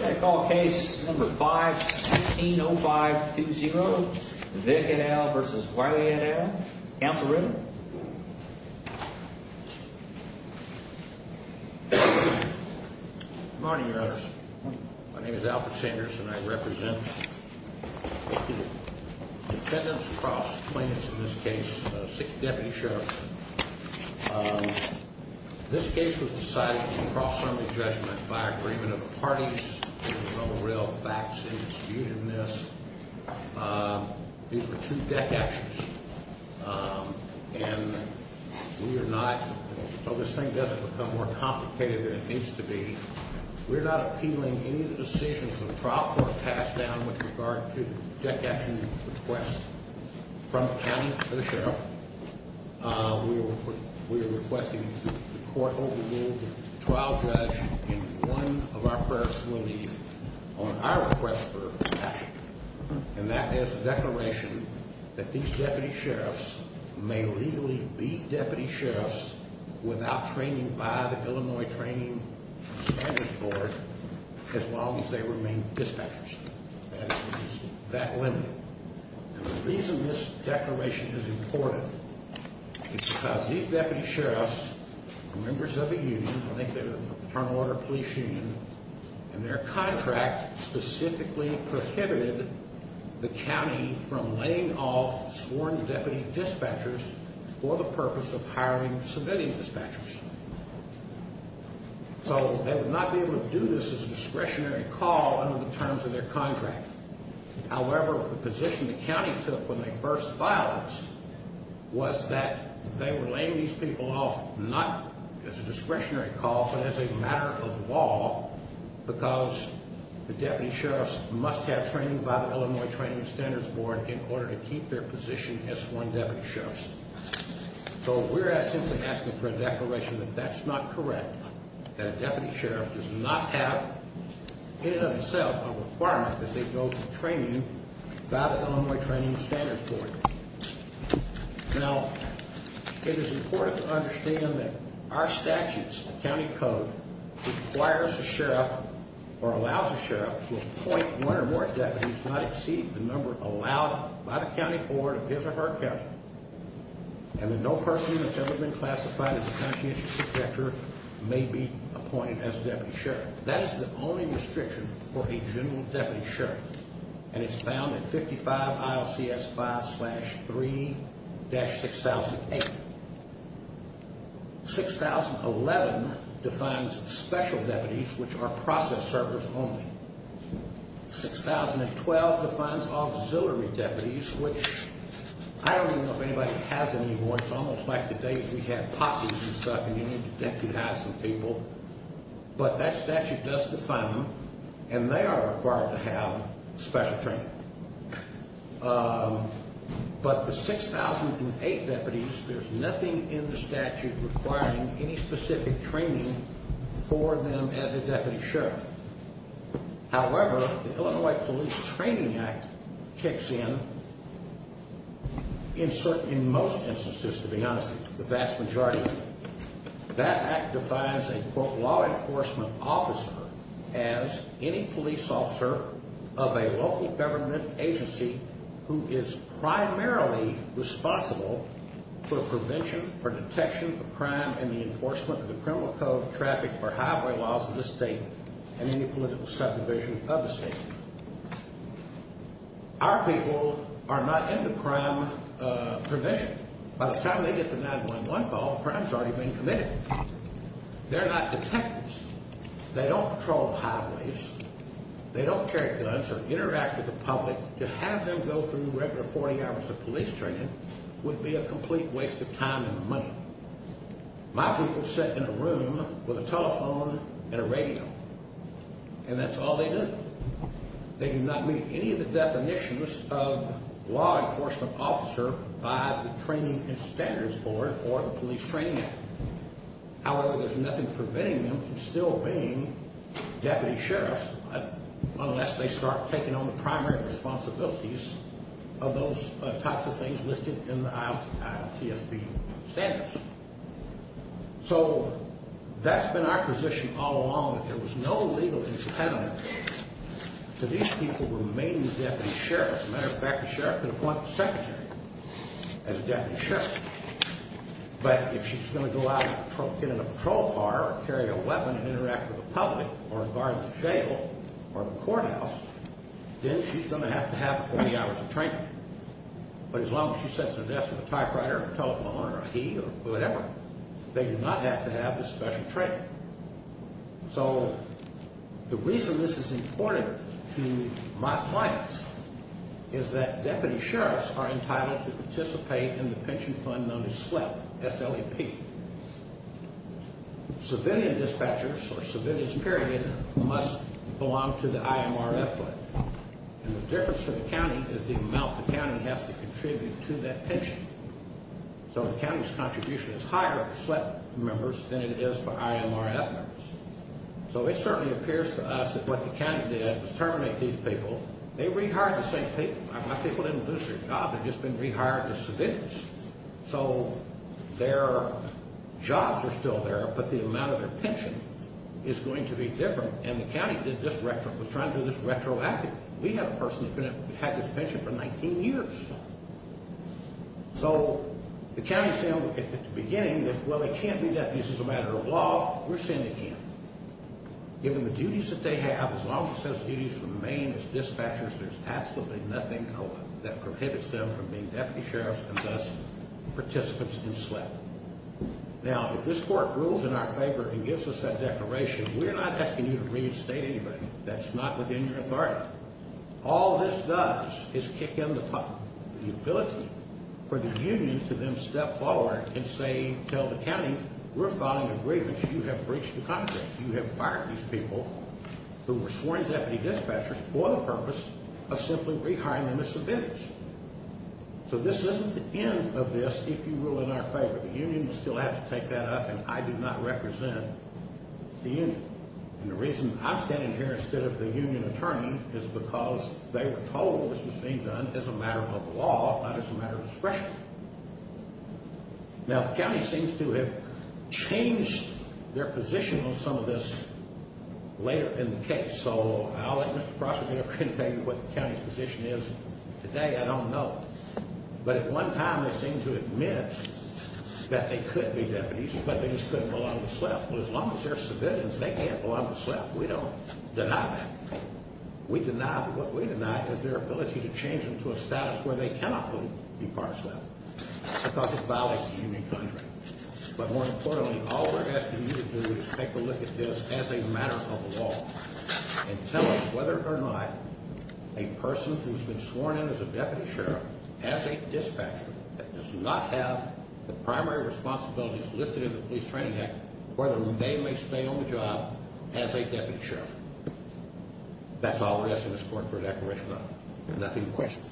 I call case number 516-0520, Vick v. Wylie and Allen. Counselor Ritter. Good morning, your honors. My name is Alfred Sanders and I represent the defendants across the plaintiffs in this case, six deputy sheriffs. This case was decided in cross-assembly judgment by agreement of the parties. There were no real facts in dispute in this. These were two deck actions and we are not, so this thing doesn't become more complicated than it needs to be. We're not appealing any of the decisions of the trial court passed down with regard to deck action requests from the county to the sheriff. We are requesting the court overrule the trial judge in one of our prayers will be on our request for deck action. And that is a declaration that these deputy sheriffs may legally be deputy sheriffs without training by the Illinois Training Standards Board as long as they remain dispatchers. That is that limit. And the reason this declaration is important is because these deputy sheriffs are members of a union. I think they're the Fraternal Order of Police Union. And their contract specifically prohibited the county from laying off sworn deputy dispatchers for the purpose of hiring civilian dispatchers. So they would not be able to do this as a discretionary call under the terms of their contract. However, the position the county took when they first filed this was that they were laying these people off not as a discretionary call but as a matter of law because the deputy sheriffs must have training by the Illinois Training Standards Board in order to keep their position as sworn deputy sheriffs. So we're simply asking for a declaration that that's not correct, that a deputy sheriff does not have in and of themselves a requirement that they go through training by the Illinois Training Standards Board. Now, it is important to understand that our statutes, the county code, requires a sheriff or allows a sheriff to appoint one or more deputies not exceeding the number allowed by the county board of his or her county. And that no person that's ever been classified as a conscientious detector may be appointed as a deputy sheriff. That is the only restriction for a general deputy sheriff, and it's found in 55 ILCS 5-3-6008. 6011 defines special deputies, which are process sheriffs only. 6012 defines auxiliary deputies, which I don't even know if anybody has them anymore. It's almost like the days we had posses and stuff, and you needed to deputize some people. But that statute does define them, and they are required to have special training. But the 6008 deputies, there's nothing in the statute requiring any specific training for them as a deputy sheriff. However, the Illinois Police Training Act kicks in in most instances, to be honest, the vast majority. That act defines a, quote, law enforcement officer as any police officer of a local government agency who is primarily responsible for prevention, for detection of crime, and the enforcement of the criminal code of traffic for highway laws of the state and any political subdivision of the state. Our people are not in the crime provision. By the time they get the 911 call, the crime's already been committed. They're not detectives. They don't patrol highways. They don't carry guns or interact with the public. To have them go through regular 40 hours of police training would be a complete waste of time and money. My people sit in a room with a telephone and a radio, and that's all they do. They do not meet any of the definitions of law enforcement officer by the Training and Standards Board or the Police Training Act. However, there's nothing preventing them from still being deputy sheriffs, unless they start taking on the primary responsibilities of those types of things listed in the IOTSB standards. So that's been our position all along, that there was no legal impediment to these people remaining deputy sheriffs. As a matter of fact, a sheriff could appoint a secretary as a deputy sheriff. But if she's going to go out and get in a patrol car or carry a weapon and interact with the public or guard the jail or the courthouse, then she's going to have to have 40 hours of training. But as long as she sits at a desk with a typewriter or a telephone or a heat or whatever, they do not have to have this special training. So the reason this is important to my clients is that deputy sheriffs are entitled to participate in the pension fund known as SLEP, S-L-E-P. Civilian dispatchers or civilians, period, must belong to the IMRF fund. And the difference for the county is the amount the county has to contribute to that pension. So the county's contribution is higher for SLEP members than it is for IMRF members. So it certainly appears to us that what the county did was terminate these people. They rehired the same people. My people didn't lose their jobs. They've just been rehired as civilians. So their jobs are still there, but the amount of their pension is going to be different. And the county was trying to do this retroactively. We had a person that had this pension for 19 years. So the county said at the beginning that, well, they can't be deputies as a matter of law. We're saying they can't. Given the duties that they have, as long as those duties remain as dispatchers, there's absolutely nothing that prohibits them from being deputy sheriffs and thus participants in SLEP. Now, if this court rules in our favor and gives us that declaration, we're not asking you to reinstate anybody. That's not within your authority. All this does is kick in the ability for the union to then step forward and say, tell the county, we're filing a grievance. You have breached the contract. You have fired these people who were sworn deputy dispatchers for the purpose of simply rehiring them as civilians. So this isn't the end of this if you rule in our favor. The union will still have to take that up, and I do not represent the union. And the reason I'm standing here instead of the union attorney is because they were told this was being done as a matter of law, not as a matter of discretion. Now, the county seems to have changed their position on some of this later in the case. So I'll let Mr. Crosswood here tell you what the county's position is today. I don't know. But at one time they seemed to admit that they could be deputies, but they just couldn't belong to SLEP. Well, as long as they're civilians, they can't belong to SLEP. We don't deny that. We deny that. What we deny is their ability to change them to a status where they cannot be part of SLEP because it violates the union contract. But more importantly, all we're asking you to do is take a look at this as a matter of law and tell us whether or not a person who's been sworn in as a deputy sheriff, as a dispatcher, that does not have the primary responsibilities listed in the Police Training Act, whether they may stay on the job as a deputy sheriff. That's all we're asking this court for a declaration of. Nothing in question.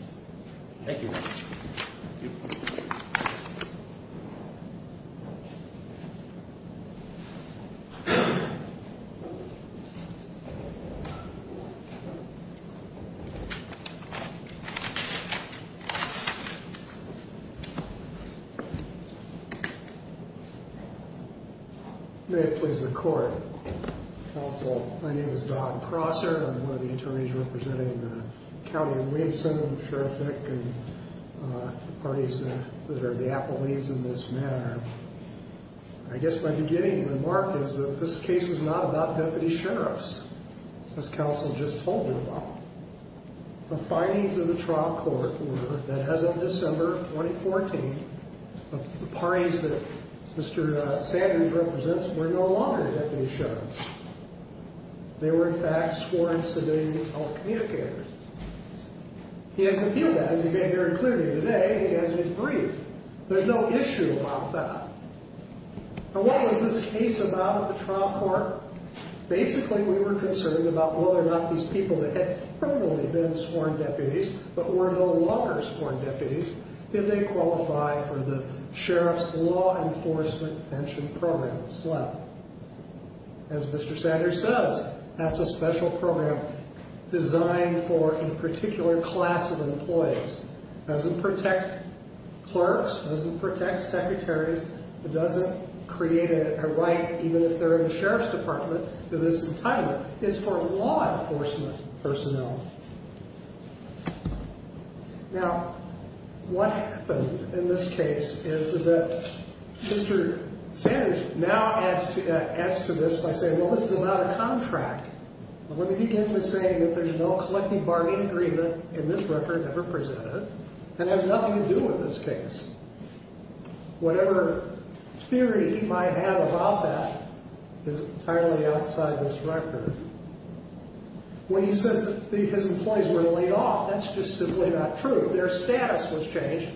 Thank you. Thank you. May it please the Court. Counsel, my name is Don Crosser. I'm one of the attorneys representing the County of Williamson, the Sheriff Nick, and the parties that are the appellees in this matter. I guess my beginning remark is that this case is not about deputy sheriffs, as counsel just told you about. The findings of the trial court were that as of December 2014, the parties that Mr. Sanders represents were no longer deputy sheriffs. They were, in fact, sworn civilians telecommunicators. He hasn't appealed that, as he made very clearly today. He has his brief. There's no issue about that. Now, what was this case about at the trial court? Basically, we were concerned about whether or not these people that had formerly been sworn deputies but were no longer sworn deputies, did they qualify for the sheriff's law enforcement pension program as well. As Mr. Sanders says, that's a special program designed for a particular class of employees. It doesn't protect clerks. It doesn't protect secretaries. It doesn't create a right, even if they're in the sheriff's department, to this entitlement. It's for law enforcement personnel. Now, what happened in this case is that Mr. Sanders now adds to this by saying, well, this is about a contract. I'm going to begin by saying that there's no collective bargaining agreement in this record ever presented and has nothing to do with this case. Whatever theory he might have about that is entirely outside this record. When he says that his employees were laid off, that's just simply not true. Their status was changed,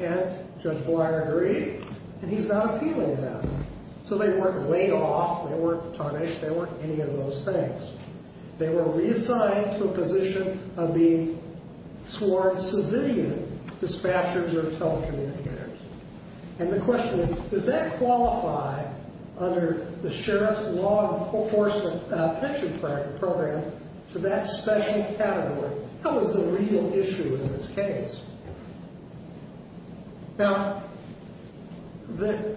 and Judge Breyer agreed, and he's not appealing that. So they weren't laid off. They weren't tarnished. They weren't any of those things. They were reassigned to a position of being sworn civilian dispatchers or telecommunicators. And the question is, does that qualify under the sheriff's law enforcement pension program for that special category? How is the real issue in this case? Now,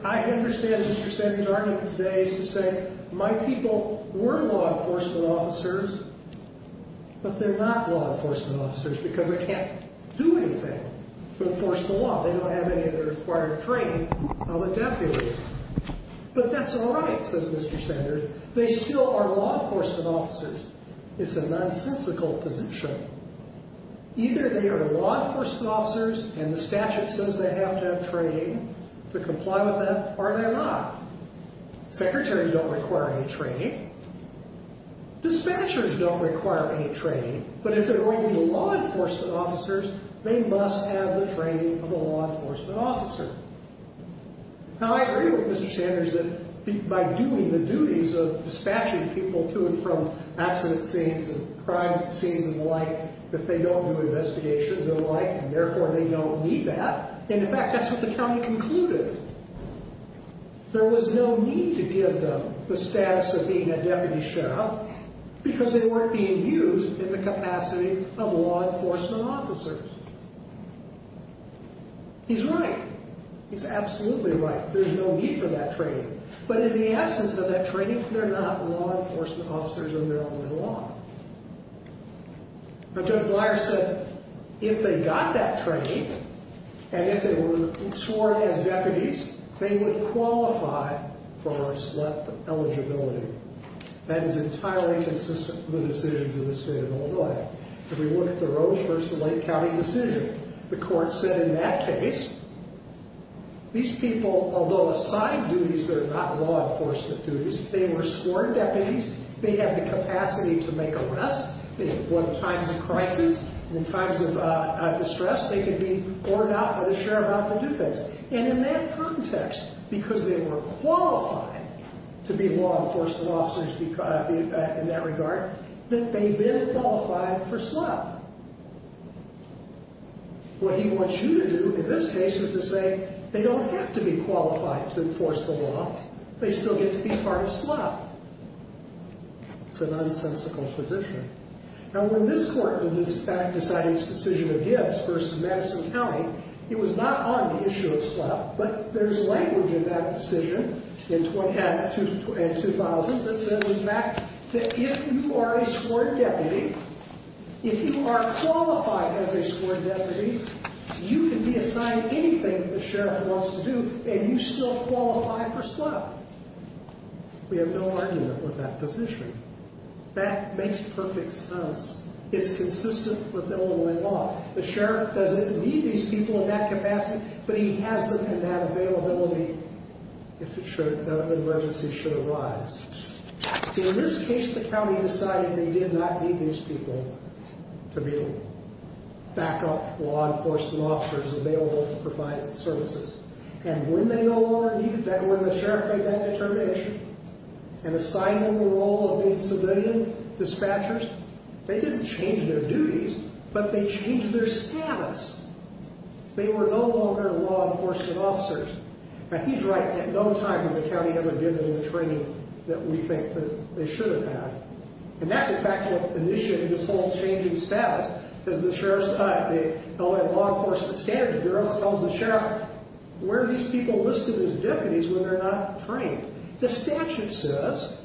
I understand Mr. Sanders' argument today is to say, my people were law enforcement officers, but they're not law enforcement officers because they can't do anything to enforce the law. They don't have any of the required training of a deputy. But that's all right, says Mr. Sanders. They still are law enforcement officers. It's a nonsensical position. Either they are law enforcement officers and the statute says they have to have training to comply with them, or they're not. Secretaries don't require any training. Dispatchers don't require any training. But if they're going to be law enforcement officers, they must have the training of a law enforcement officer. Now, I agree with Mr. Sanders that by doing the duties of dispatching people to and from accident scenes and crime scenes and the like, that they don't do investigations and the like, and therefore they don't need that. In fact, that's what the county concluded. There was no need to give them the status of being a deputy sheriff because they weren't being used in the capacity of law enforcement officers. He's right. He's absolutely right. There's no need for that training. But in the absence of that training, they're not law enforcement officers in their own little law. But Judge Blyer said if they got that training, and if they were sworn as deputies, they would qualify for select eligibility. That is entirely consistent with the decisions of the state of Illinois. If we look at the Rose versus Lake County decision, the court said in that case, these people, although assigned duties, they're not law enforcement duties. They were sworn deputies. They have the capacity to make arrests. In times of crisis, in times of distress, they could be ordered out by the sheriff not to do things. And in that context, because they were qualified to be law enforcement officers in that regard, that they then qualified for select. What he wants you to do in this case is to say they don't have to be qualified to enforce the law. They still get to be part of SLEP. It's an unsensical position. Now, when this court in this fact decided its decision of Gibbs versus Madison County, it was not on the issue of SLEP. But there's language in that decision in 2000 that says, in fact, that if you are a sworn deputy, if you are qualified as a sworn deputy, you can be assigned anything the sheriff wants to do, and you still qualify for SLEP. We have no argument with that position. That makes perfect sense. It's consistent with Illinois law. The sheriff doesn't need these people in that capacity, but he has them in that availability if an emergency should arise. In this case, the county decided they did not need these people to be backup law enforcement officers available to provide services. And when they no longer needed that, when the sheriff made that determination and assigned them the role of being civilian dispatchers, they didn't change their duties, but they changed their status. They were no longer law enforcement officers. Now, he's right. At no time had the county ever given them the training that we think that they should have had. And that's, in fact, what initiated this whole change in status. As the law enforcement standards bureau tells the sheriff, where are these people listed as deputies when they're not trained? The statute says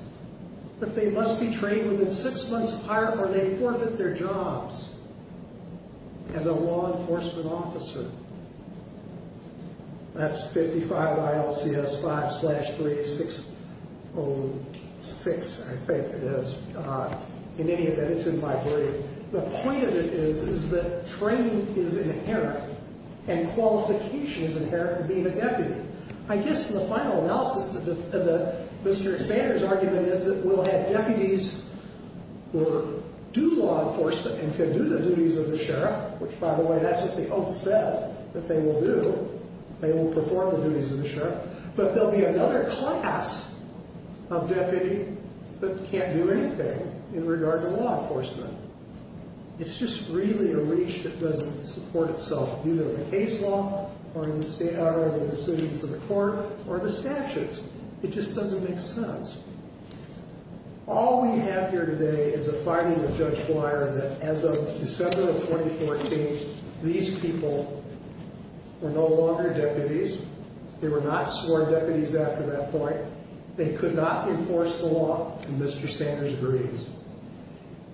that they must be trained within six months prior or they forfeit their jobs as a law enforcement officer. That's 55 ILCS 5-3-606, I think it is. In any event, it's in my brief. The point of it is, is that training is inherent and qualification is inherent in being a deputy. I guess the final analysis of Mr. Sanders' argument is that we'll have deputies who do law enforcement and can do the duties of the sheriff, which, by the way, that's what the oath says that they will do. They will perform the duties of the sheriff. But there will be another class of deputy that can't do anything in regard to law enforcement. It's just really a reach that doesn't support itself, either in the case law or in the decisions of the court or the statutes. It just doesn't make sense. All we have here today is a fighting with Judge Blyer that as of December of 2014, these people were no longer deputies. They were not sworn deputies after that point. They could not enforce the law, and Mr. Sanders agrees.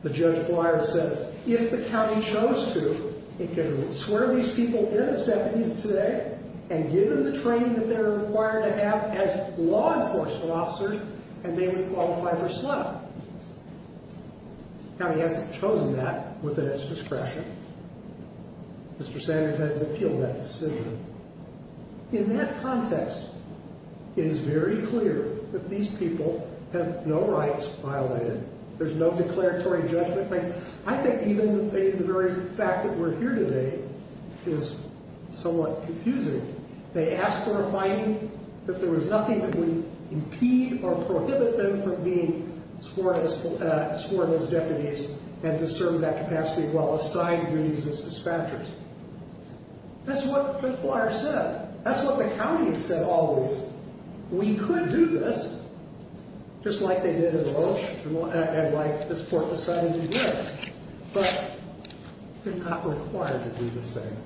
The Judge Blyer says, if the county chose to, it could swear these people in as deputies today and give them the training that they're required to have as law enforcement officers, and they would qualify for slum. The county hasn't chosen that within its discretion. Mr. Sanders has appealed that decision. In that context, it is very clear that these people have no rights violated. There's no declaratory judgment. I think even the very fact that we're here today is somewhat confusing. They asked for a fighting, but there was nothing that would impede or prohibit them from being sworn as deputies and to serve that capacity while assigned duties as dispatchers. That's what Judge Blyer said. That's what the county has said always. We could do this just like they did in Roche and like this court decided to do, but they're not required to do the same.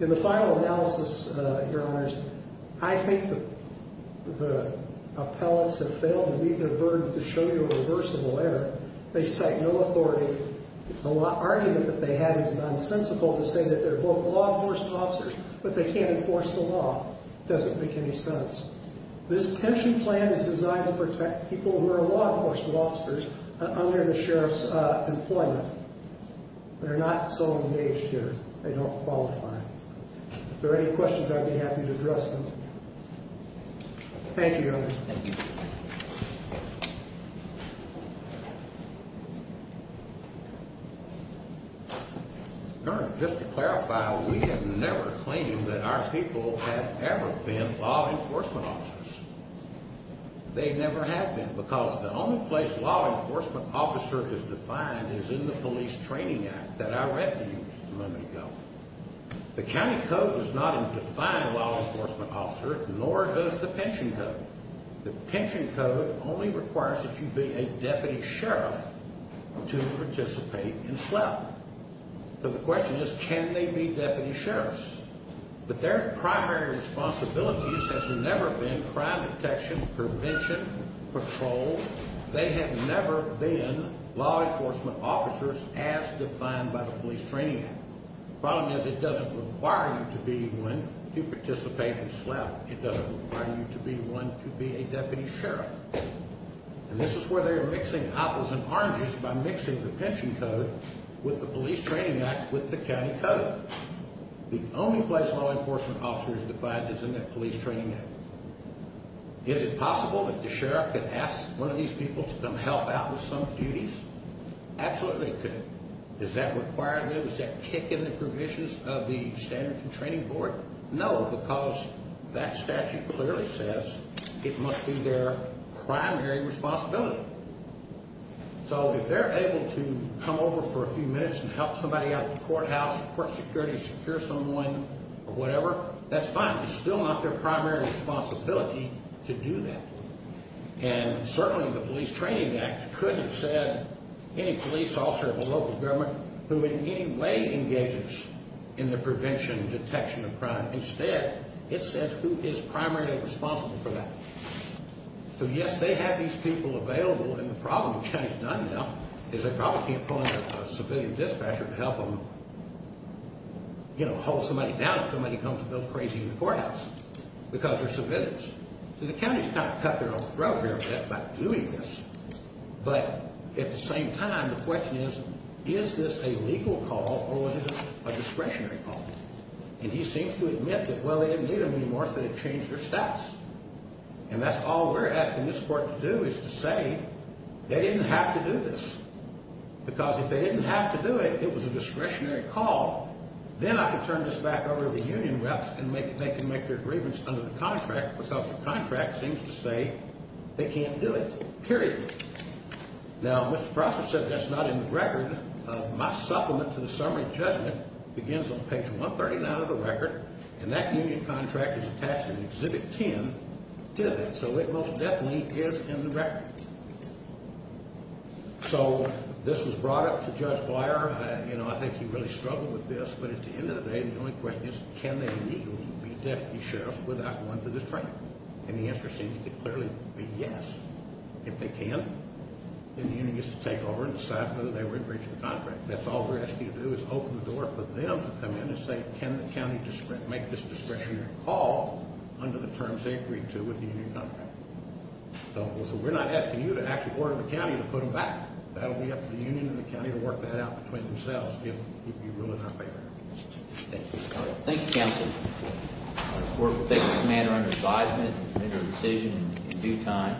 In the final analysis, Your Honors, I think the appellants have failed to meet their burden to show you a reversible error. They cite no authority. The argument that they have is nonsensical to say that they're both law enforcement officers, but they can't enforce the law. It doesn't make any sense. This pension plan is designed to protect people who are law enforcement officers under the sheriff's employment. They're not so engaged here. They don't qualify. If there are any questions, I'd be happy to address them. Thank you, Your Honors. Thank you. Your Honors, just to clarify, we have never claimed that our people have ever been law enforcement officers. They never have been because the only place law enforcement officer is defined is in the Police Training Act that I read to you just a moment ago. The county code does not define a law enforcement officer, nor does the pension code. The pension code only requires that you be a deputy sheriff to participate in SLEP. So the question is, can they be deputy sheriffs? But their primary responsibility has never been crime detection, prevention, patrol. They have never been law enforcement officers as defined by the Police Training Act. The problem is it doesn't require you to be one to participate in SLEP. It doesn't require you to be one to be a deputy sheriff. And this is where they're mixing apples and oranges by mixing the pension code with the Police Training Act with the county code. The only place law enforcement officer is defined is in the Police Training Act. Is it possible that the sheriff could ask one of these people to come help out with some duties? Absolutely, they could. Does that require them? Does that kick in the provisions of the Standards and Training Board? No, because that statute clearly says it must be their primary responsibility. So if they're able to come over for a few minutes and help somebody out at the courthouse, court security, secure someone or whatever, that's fine. It's still not their primary responsibility to do that. And certainly the Police Training Act couldn't have said any police officer of a local government who in any way engages in the prevention, detection of crime. Instead, it says who is primarily responsible for that. So yes, they have these people available, and the problem the county's done now is they probably can't pull in a civilian dispatcher to help them, you know, hold somebody down if somebody comes and goes crazy in the courthouse because they're civilians. So the county's kind of cut their own throat here by doing this. But at the same time, the question is, is this a legal call or was it a discretionary call? And he seems to admit that, well, they didn't need them anymore, so they changed their stats. And that's all we're asking this court to do is to say they didn't have to do this because if they didn't have to do it, it was a discretionary call. Then I can turn this back over to the union reps and they can make their grievance under the contract because the contract seems to say they can't do it, period. Now, Mr. Prosser said that's not in the record. My supplement to the summary judgment begins on page 139 of the record, and that union contract is attached in Exhibit 10 to that. So it most definitely is in the record. So this was brought up to Judge Blier. I think he really struggled with this, but at the end of the day, the only question is, can they legally be deputy sheriffs without going through this training? And the answer seems to clearly be yes. If they can, then the union gets to take over and decide whether they were in breach of the contract. That's all we're asking to do is open the door for them to come in and say, can the county make this discretionary call under the terms they agreed to with the union contract? So we're not asking you to actually order the county to put them back. That will be up to the union and the county to work that out between themselves if you rule in our favor. Thank you. Thank you, counsel. We'll take this matter under advisement and make a decision in due time.